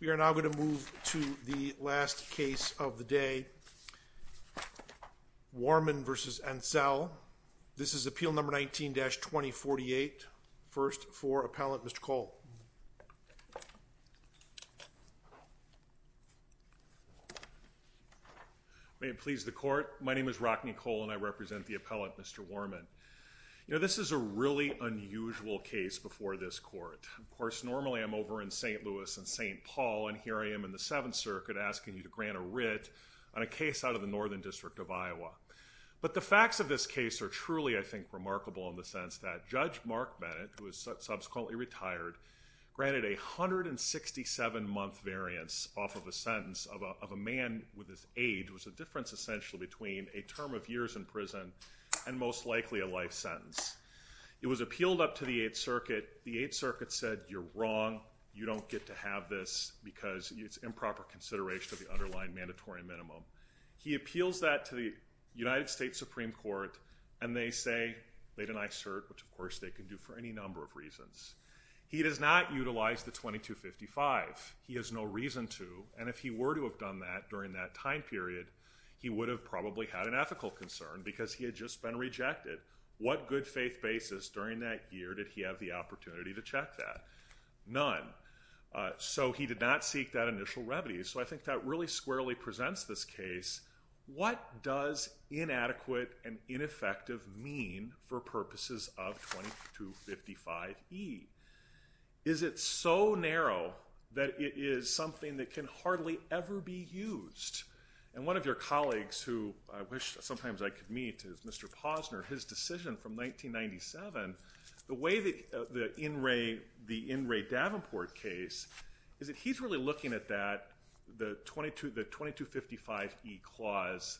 We are now going to move to the last case of the day, Worman v. Entzel. This is Appeal No. 19-2048. First for Appellant Mr. Kohl. May it please the Court, my name is Rockney Kohl and I represent the Appellant Mr. Worman. You know, this is a really unusual case before this Court. Of course, normally I'm over in St. Louis and St. Paul and here I am in the Seventh Circuit asking you to grant a writ on a case out of the Northern District of Iowa. But the facts of this case are truly, I think, remarkable in the sense that Judge Mark Bennett, who was subsequently retired, granted a 167-month variance off of a sentence of a man with his age, which is a difference essentially between a term of years in prison and most likely a life sentence. It was appealed up to the Eighth Circuit. The Eighth Circuit said, you're wrong, you don't get to have this because it's improper consideration of the underlying mandatory minimum. He appeals that to the United States Supreme Court and they say, they deny cert, which of course they can do for any number of reasons. He does not utilize the 2255. He has no reason to and if he were to have done that during that time period, he would have probably had an ethical concern because he had just been rejected. What good faith basis during that year did he have the opportunity to check that? None. So he did not seek that initial remedy. So I think that really squarely presents this case. What does inadequate and ineffective mean for purposes of 2255E? Is it so narrow that it is something that can hardly ever be used? And one of your colleagues who I wish sometimes I could meet is Mr. Posner. His decision from 1997, the way the In Re Davenport case is that he's really looking at that, the 2255E clause,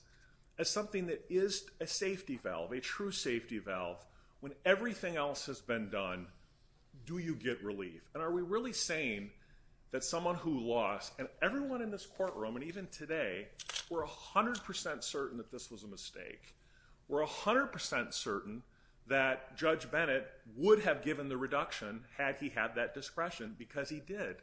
as something that is a safety valve, a true safety valve. When everything else has been done, do you get relief? And are we really saying that someone who lost, and everyone in this courtroom and even today, we're 100% certain that this was a mistake. We're 100% certain that Judge Bennett would have given the reduction had he had that discretion because he did.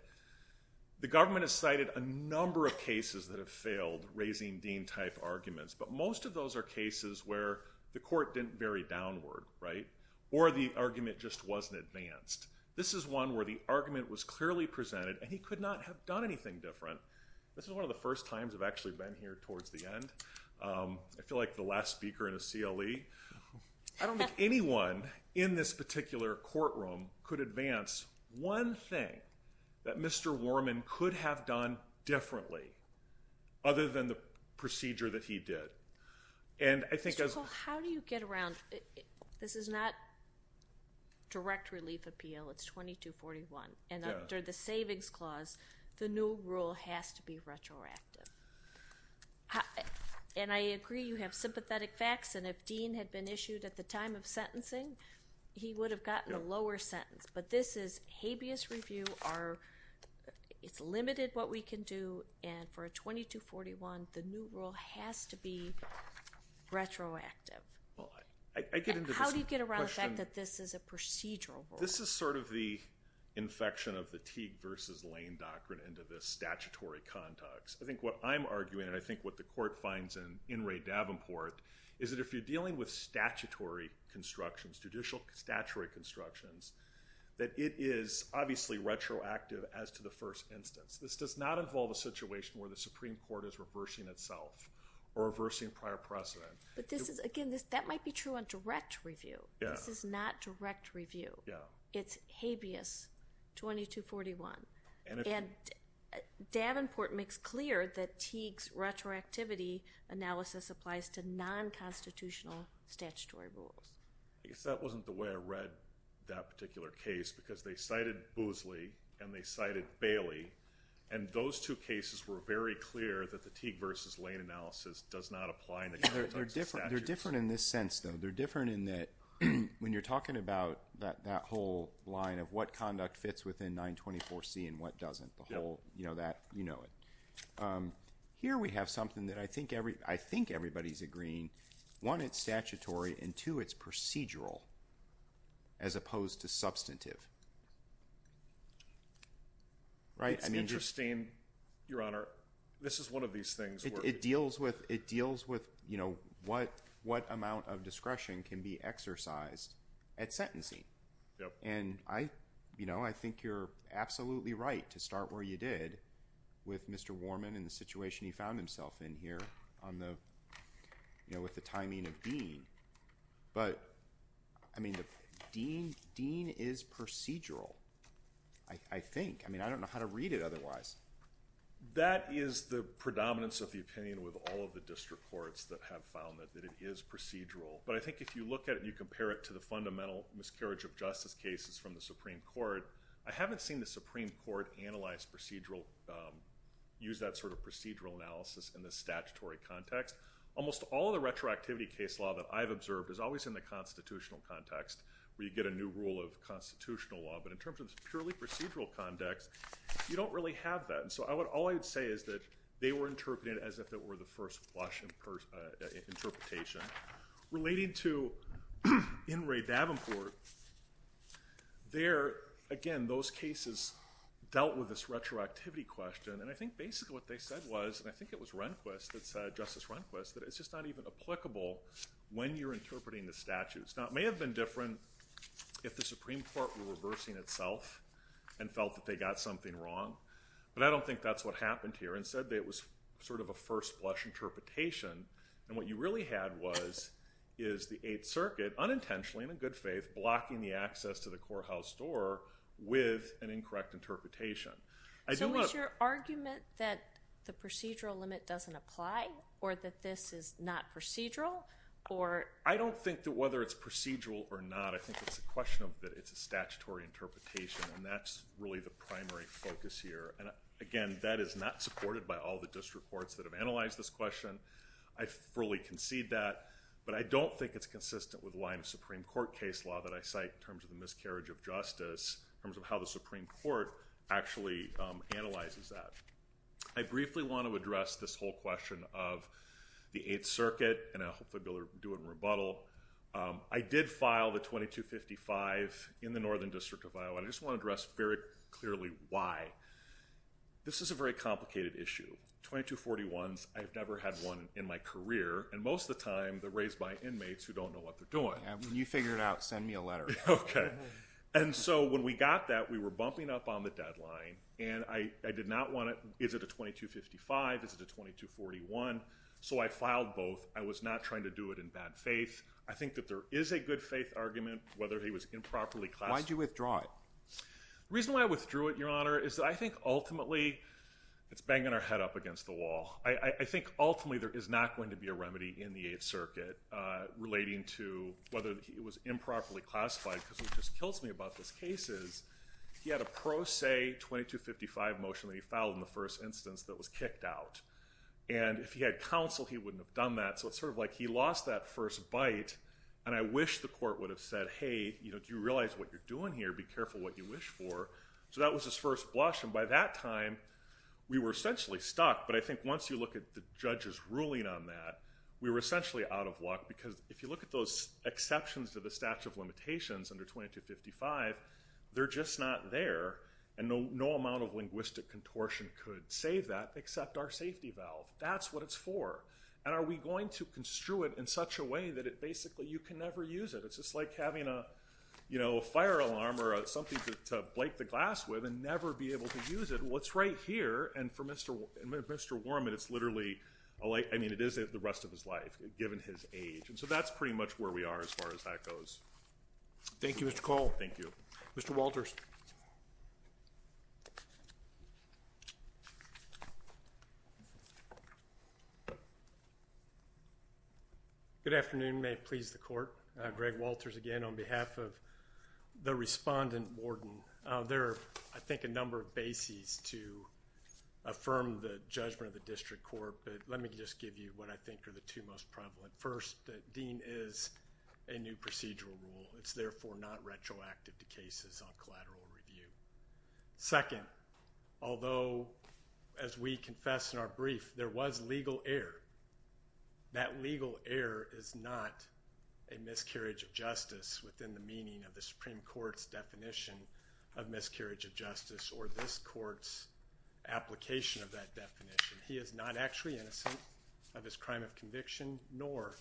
The government has cited a number of cases that have failed raising Dean-type arguments, but most of those are cases where the court didn't vary downward, right? Or the argument just wasn't advanced. This is one where the argument was clearly presented and he could not have done anything different. This is one of the first times I've actually been here towards the end. I feel like the last speaker in a CLE. I don't think anyone in this particular courtroom could advance one thing that Mr. Warman could have done differently other than the procedure that he did. And I think as- This is not direct relief appeal, it's 2241. And under the savings clause, the new rule has to be retroactive. And I agree, you have sympathetic facts, and if Dean had been issued at the time of sentencing, he would have gotten a lower sentence. But this is habeas review, it's limited what we can do, and for a 2241, the new rule has to be retroactive. And how do you get around the fact that this is a procedural rule? This is sort of the infection of the Teague versus Lane doctrine into this statutory context. I think what I'm arguing, and I think what the court finds in Ray Davenport, is that if you're dealing with statutory constructions, judicial statutory constructions, that it is obviously retroactive as to the first instance. This does not involve a situation where the Supreme Court is reversing itself, or reversing prior precedent. But this is, again, that might be true on direct review, this is not direct review. It's habeas 2241. And Davenport makes clear that Teague's retroactivity analysis applies to non-constitutional statutory rules. I guess that wasn't the way I read that particular case, because they cited Boosley, and they And those two cases were very clear that the Teague versus Lane analysis does not apply in the context of statute. They're different in this sense, though. They're different in that, when you're talking about that whole line of what conduct fits within 924C and what doesn't, the whole, you know, that, you know it. Here we have something that I think everybody's agreeing, one, it's statutory, and two, it's procedural, as opposed to substantive. It's interesting, Your Honor, this is one of these things where It deals with, you know, what amount of discretion can be exercised at sentencing. And I, you know, I think you're absolutely right to start where you did with Mr. Warman and the situation he found himself in here on the, you know, with the timing of Dean. But, I mean, Dean is procedural, I think. I mean, I don't know how to read it otherwise. That is the predominance of the opinion with all of the district courts that have found that it is procedural. But I think if you look at it and you compare it to the fundamental miscarriage of justice cases from the Supreme Court, I haven't seen the Supreme Court analyze procedural, use that sort of procedural analysis in the statutory context. Almost all of the retroactivity case law that I've observed is always in the constitutional context, where you get a new rule of constitutional law, but in terms of purely procedural context, you don't really have that. And so all I would say is that they were interpreted as if it were the first flush interpretation. Relating to In re Davenport, there, again, those cases dealt with this retroactivity question. And I think basically what they said was, and I think it was Rehnquist that said, Justice Rehnquist, that it's just not even applicable when you're interpreting the statutes. Now, it may have been different if the Supreme Court were reversing itself and felt that they got something wrong, but I don't think that's what happened here. Instead, it was sort of a first flush interpretation. And what you really had was, is the Eighth Circuit, unintentionally, in good faith, blocking the access to the courthouse door with an incorrect interpretation. So is your argument that the procedural limit doesn't apply, or that this is not procedural? I don't think that whether it's procedural or not, I think it's a question of that it's a statutory interpretation, and that's really the primary focus here. And again, that is not supported by all the district courts that have analyzed this question. I fully concede that, but I don't think it's consistent with the line of Supreme Court case law that I cite in terms of the miscarriage of justice, in terms of how the Supreme Court actually analyzes that. I briefly want to address this whole question of the Eighth Circuit, and I hope that they'll do a rebuttal. I did file the 2255 in the Northern District of Iowa, and I just want to address very clearly why. This is a very complicated issue. 2241s, I've never had one in my career, and most of the time, they're raised by inmates who don't know what they're doing. Yeah, when you figure it out, send me a letter. Okay. And so when we got that, we were bumping up on the deadline, and I did not want it, is it a 2255, is it a 2241? So I filed both. I was not trying to do it in bad faith. I think that there is a good faith argument whether he was improperly classified. Why did you withdraw it? The reason why I withdrew it, Your Honor, is that I think ultimately it's banging our head up against the wall. I think ultimately there is not going to be a remedy in the Eighth Circuit relating to whether he was improperly classified, because what just kills me about this case is he had a pro se 2255 motion that he filed in the first instance that was kicked out. And if he had counsel, he wouldn't have done that, so it's sort of like he lost that first bite, and I wish the court would have said, hey, do you realize what you're doing here? Be careful what you wish for. So that was his first blush, and by that time, we were essentially stuck, but I think once you look at the judge's ruling on that, we were essentially out of luck, because if you look at those exceptions to the statute of limitations under 2255, they're just not there, and no amount of linguistic contortion could save that except our safety valve. That's what it's for, and are we going to construe it in such a way that it basically, you can never use it. It's just like having a fire alarm or something to blake the glass with and never be able to use it. Well, it's right here, and for Mr. Warman, it's literally, I mean, it is the rest of his life, given his age, and so that's pretty much where we are as far as that goes. Thank you, Mr. Cole. Thank you. Mr. Walters. Good afternoon. May it please the court, Greg Walters again on behalf of the respondent warden. There are, I think, a number of bases to affirm the judgment of the district court, but let me just give you what I think are the two most prevalent. First, that Dean is a new procedural rule. It's therefore not retroactive to cases on collateral review. Second, although as we confess in our brief, there was legal error, that legal error is not a miscarriage of justice within the meaning of the Supreme Court's definition of miscarriage of justice or this court's application of that definition. He is not actually innocent of his crime of conviction, nor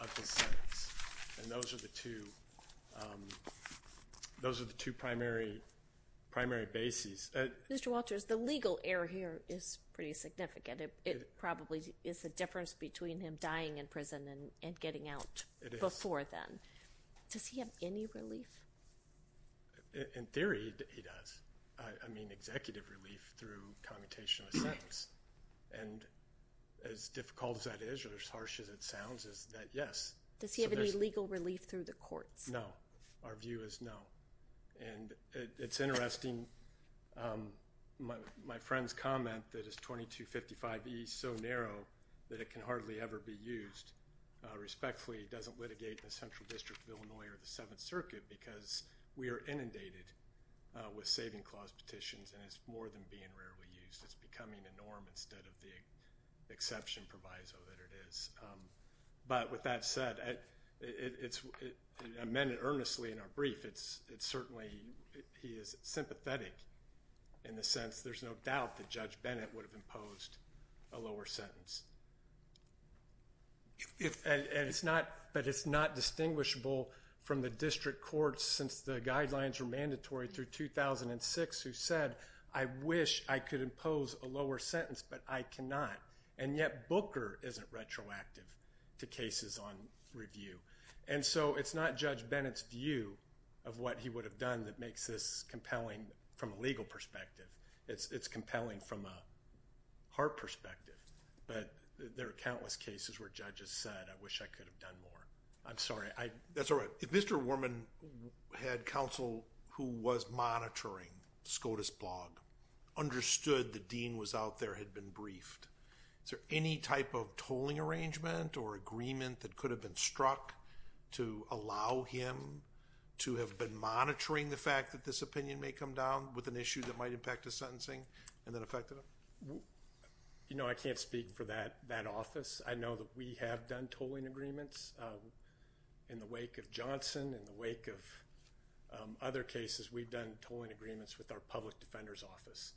of his sentence, and those are the two primary bases. Mr. Walters, the legal error here is pretty significant. It probably is the difference between him dying in prison and getting out before then. Does he have any relief? In theory, he does. I mean, executive relief through commutation of a sentence, and as difficult as that is or as harsh as it sounds is that yes. Does he have any legal relief through the courts? No. Our view is no, and it's interesting. My friend's comment that is 2255E so narrow that it can hardly ever be used respectfully doesn't litigate the Central District of Illinois or the Seventh Circuit because we are inundated with saving clause petitions and it's more than being rarely used. It's becoming a norm instead of the exception proviso that it is. But with that said, it's amended earnestly in our brief. It's certainly, he is sympathetic in the sense there's no doubt that Judge Bennett would have imposed a lower sentence, but it's not distinguishable from the district courts since the guidelines were mandatory through 2006 who said I wish I could impose a lower sentence but I cannot. And yet Booker isn't retroactive to cases on review. And so it's not Judge Bennett's view of what he would have done that makes this compelling from a legal perspective. It's compelling from a heart perspective, but there are countless cases where judges said I wish I could have done more. I'm sorry. That's all right. If Mr. Worman had counsel who was monitoring SCOTUS blog, understood the dean was out there, had been briefed, is there any type of tolling arrangement or agreement that could have been struck to allow him to have been monitoring the fact that this opinion may come down with an issue that might impact his sentencing and then affected him? You know I can't speak for that office. I know that we have done tolling agreements in the wake of Johnson, in the wake of other cases we've done tolling agreements with our public defender's office.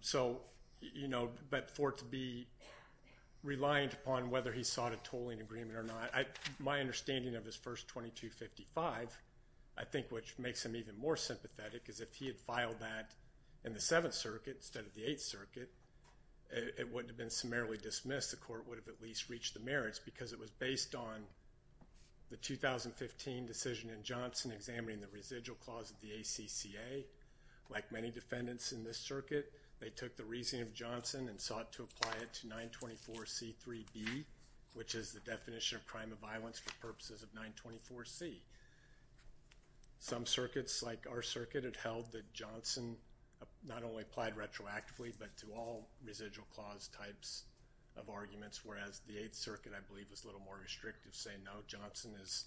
So you know but for it to be reliant upon whether he sought a tolling agreement or not, my understanding of his first 2255, I think which makes him even more sympathetic is if he had filed that in the 7th Circuit instead of the 8th Circuit, it wouldn't have been summarily dismissed. The court would have at least reached the merits because it was based on the 2015 decision in Johnson examining the residual clause of the ACCA. Like many defendants in this circuit, they took the reasoning of Johnson and sought to apply it to 924C3B, which is the definition of crime of violence for purposes of 924C. Some circuits like our circuit had held that Johnson not only applied retroactively but to all residual clause types of arguments, whereas the 8th Circuit I believe was a little more restrictive saying no, Johnson is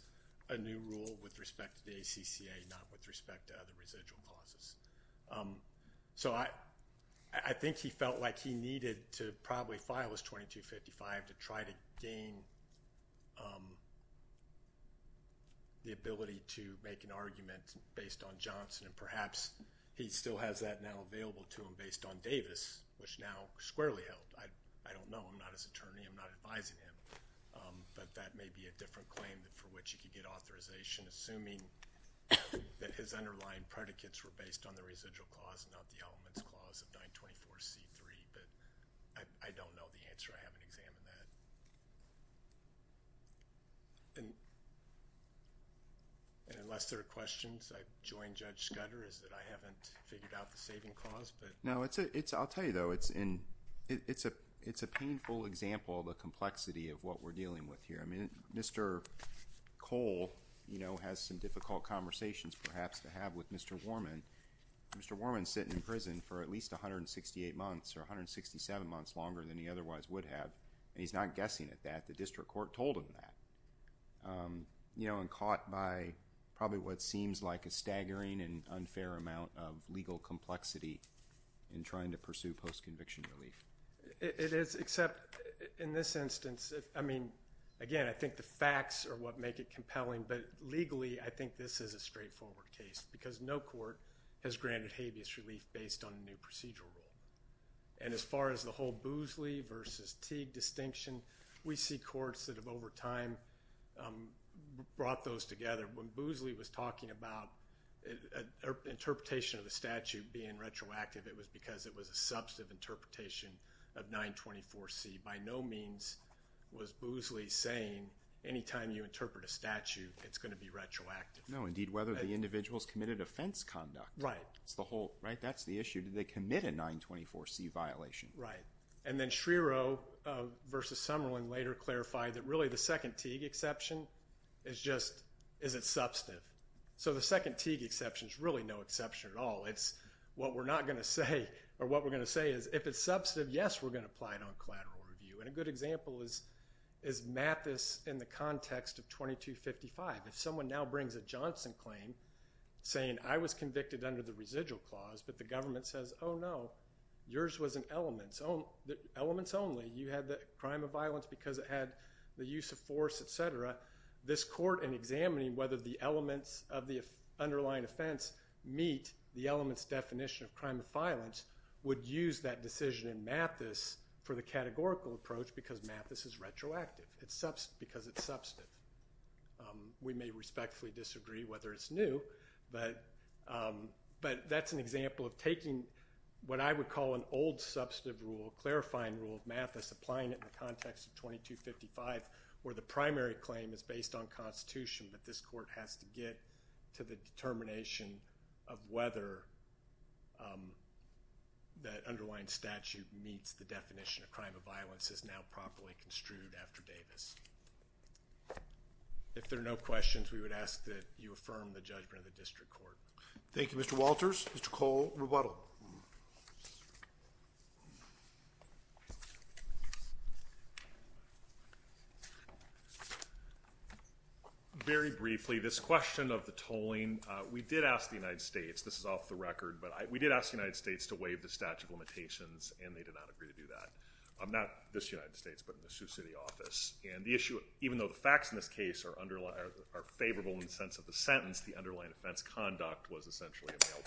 a new rule with respect to the ACCA, not with respect to other residual clauses. So I think he felt like he needed to probably file his 2255 to try to gain the ability to make an argument based on Johnson and perhaps he still has that now available to him based on Davis, which now squarely held. I don't know. I'm not his attorney. I'm not advising him. But that may be a different claim for which he could get authorization assuming that his argument was based on the residual clause and not the elements clause of 924C3, but I don't know the answer. I haven't examined that. And unless there are questions, I join Judge Scudder is that I haven't figured out the saving clause. But... No. It's a... I'll tell you though. It's a painful example of the complexity of what we're dealing with here. I mean, Mr. Cole, you know, has some difficult conversations perhaps to have with Mr. Warman. Mr. Warman is sitting in prison for at least 168 months or 167 months longer than he otherwise would have and he's not guessing at that. The district court told him that, you know, and caught by probably what seems like a staggering and unfair amount of legal complexity in trying to pursue post-conviction relief. It is, except in this instance, I mean, again, I think the facts are what make it compelling, but legally I think this is a straightforward case because no court has granted habeas relief based on a new procedural rule. And as far as the whole Boozley versus Teague distinction, we see courts that have over time brought those together. When Boozley was talking about an interpretation of the statute being retroactive, it was because it was a substantive interpretation of 924C. By no means was Boozley saying any time you interpret a statute, it's going to be retroactive. No. Indeed, whether the individuals committed offense conduct. Right. That's the whole, right? That's the issue. Did they commit a 924C violation? Right. And then Schrierow versus Summerlin later clarified that really the second Teague exception is just, is it substantive? So the second Teague exception is really no exception at all. It's what we're not going to say or what we're going to say is if it's substantive, yes, we're going to apply it on collateral review. And a good example is Mathis in the context of 2255. If someone now brings a Johnson claim saying I was convicted under the residual clause, but the government says, oh, no, yours was an elements only. You had the crime of violence because it had the use of force, et cetera. This court in examining whether the elements of the underlying offense meet the elements definition of crime of violence would use that decision in Mathis for the categorical approach because Mathis is retroactive because it's substantive. We may respectfully disagree whether it's new, but that's an example of taking what I would call an old substantive rule, clarifying rule of Mathis, applying it in the context of 2255 where the primary claim is based on constitution, but this court has to get to the determination of whether that underlying statute meets the definition of crime of violence is now properly construed after Davis. If there are no questions, we would ask that you affirm the judgment of the district court. Thank you, Mr. Walters. Mr. Cole, rebuttal. Very briefly, this question of the tolling, we did ask the United States, this is off the record, but we did ask the United States to waive the statute of limitations, and they did not agree to do that. Not this United States, but in the Sioux City office. And the issue, even though the facts in this case are favorable in the sense of the sentence, the underlying offense conduct was essentially a mail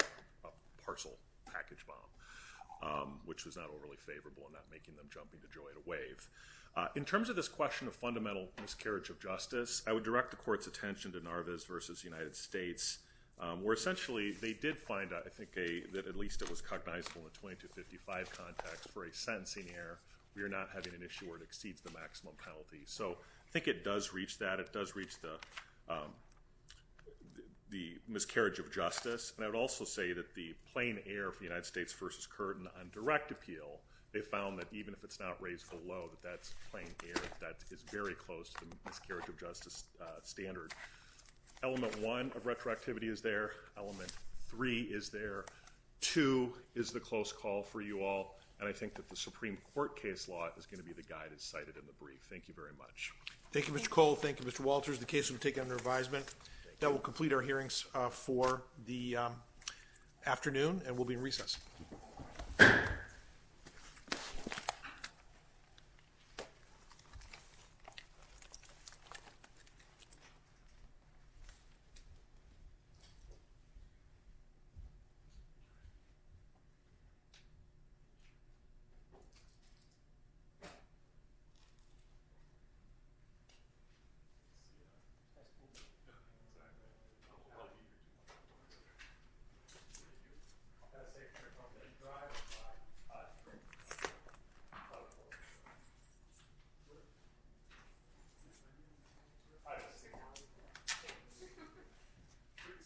parcel package bomb, which was not overly favorable in not making them jump into joy to waive. In terms of this question of fundamental miscarriage of justice, I would direct the court's attention to Narvaez v. United States, where essentially they did find, I think, that at least it was cognizable in the 2255 context for a sentencing error, we are not having an issue where it exceeds the maximum penalty. So I think it does reach that. It does reach the miscarriage of justice. And I would also say that the plain error for United States v. Curtin on direct appeal, they found that even if it's not raised below, that that's plain error. That is very close to the miscarriage of justice standard. Element one of retroactivity is there. Element three is there. Two is the close call for you all. And I think that the Supreme Court case law is going to be the guy that's cited in the brief. Thank you very much. Thank you, Mr. Cole. Thank you, Mr. Walters. The case will be taken under advisement. That will complete our hearings for the afternoon, and we'll be in recess.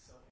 Thank you.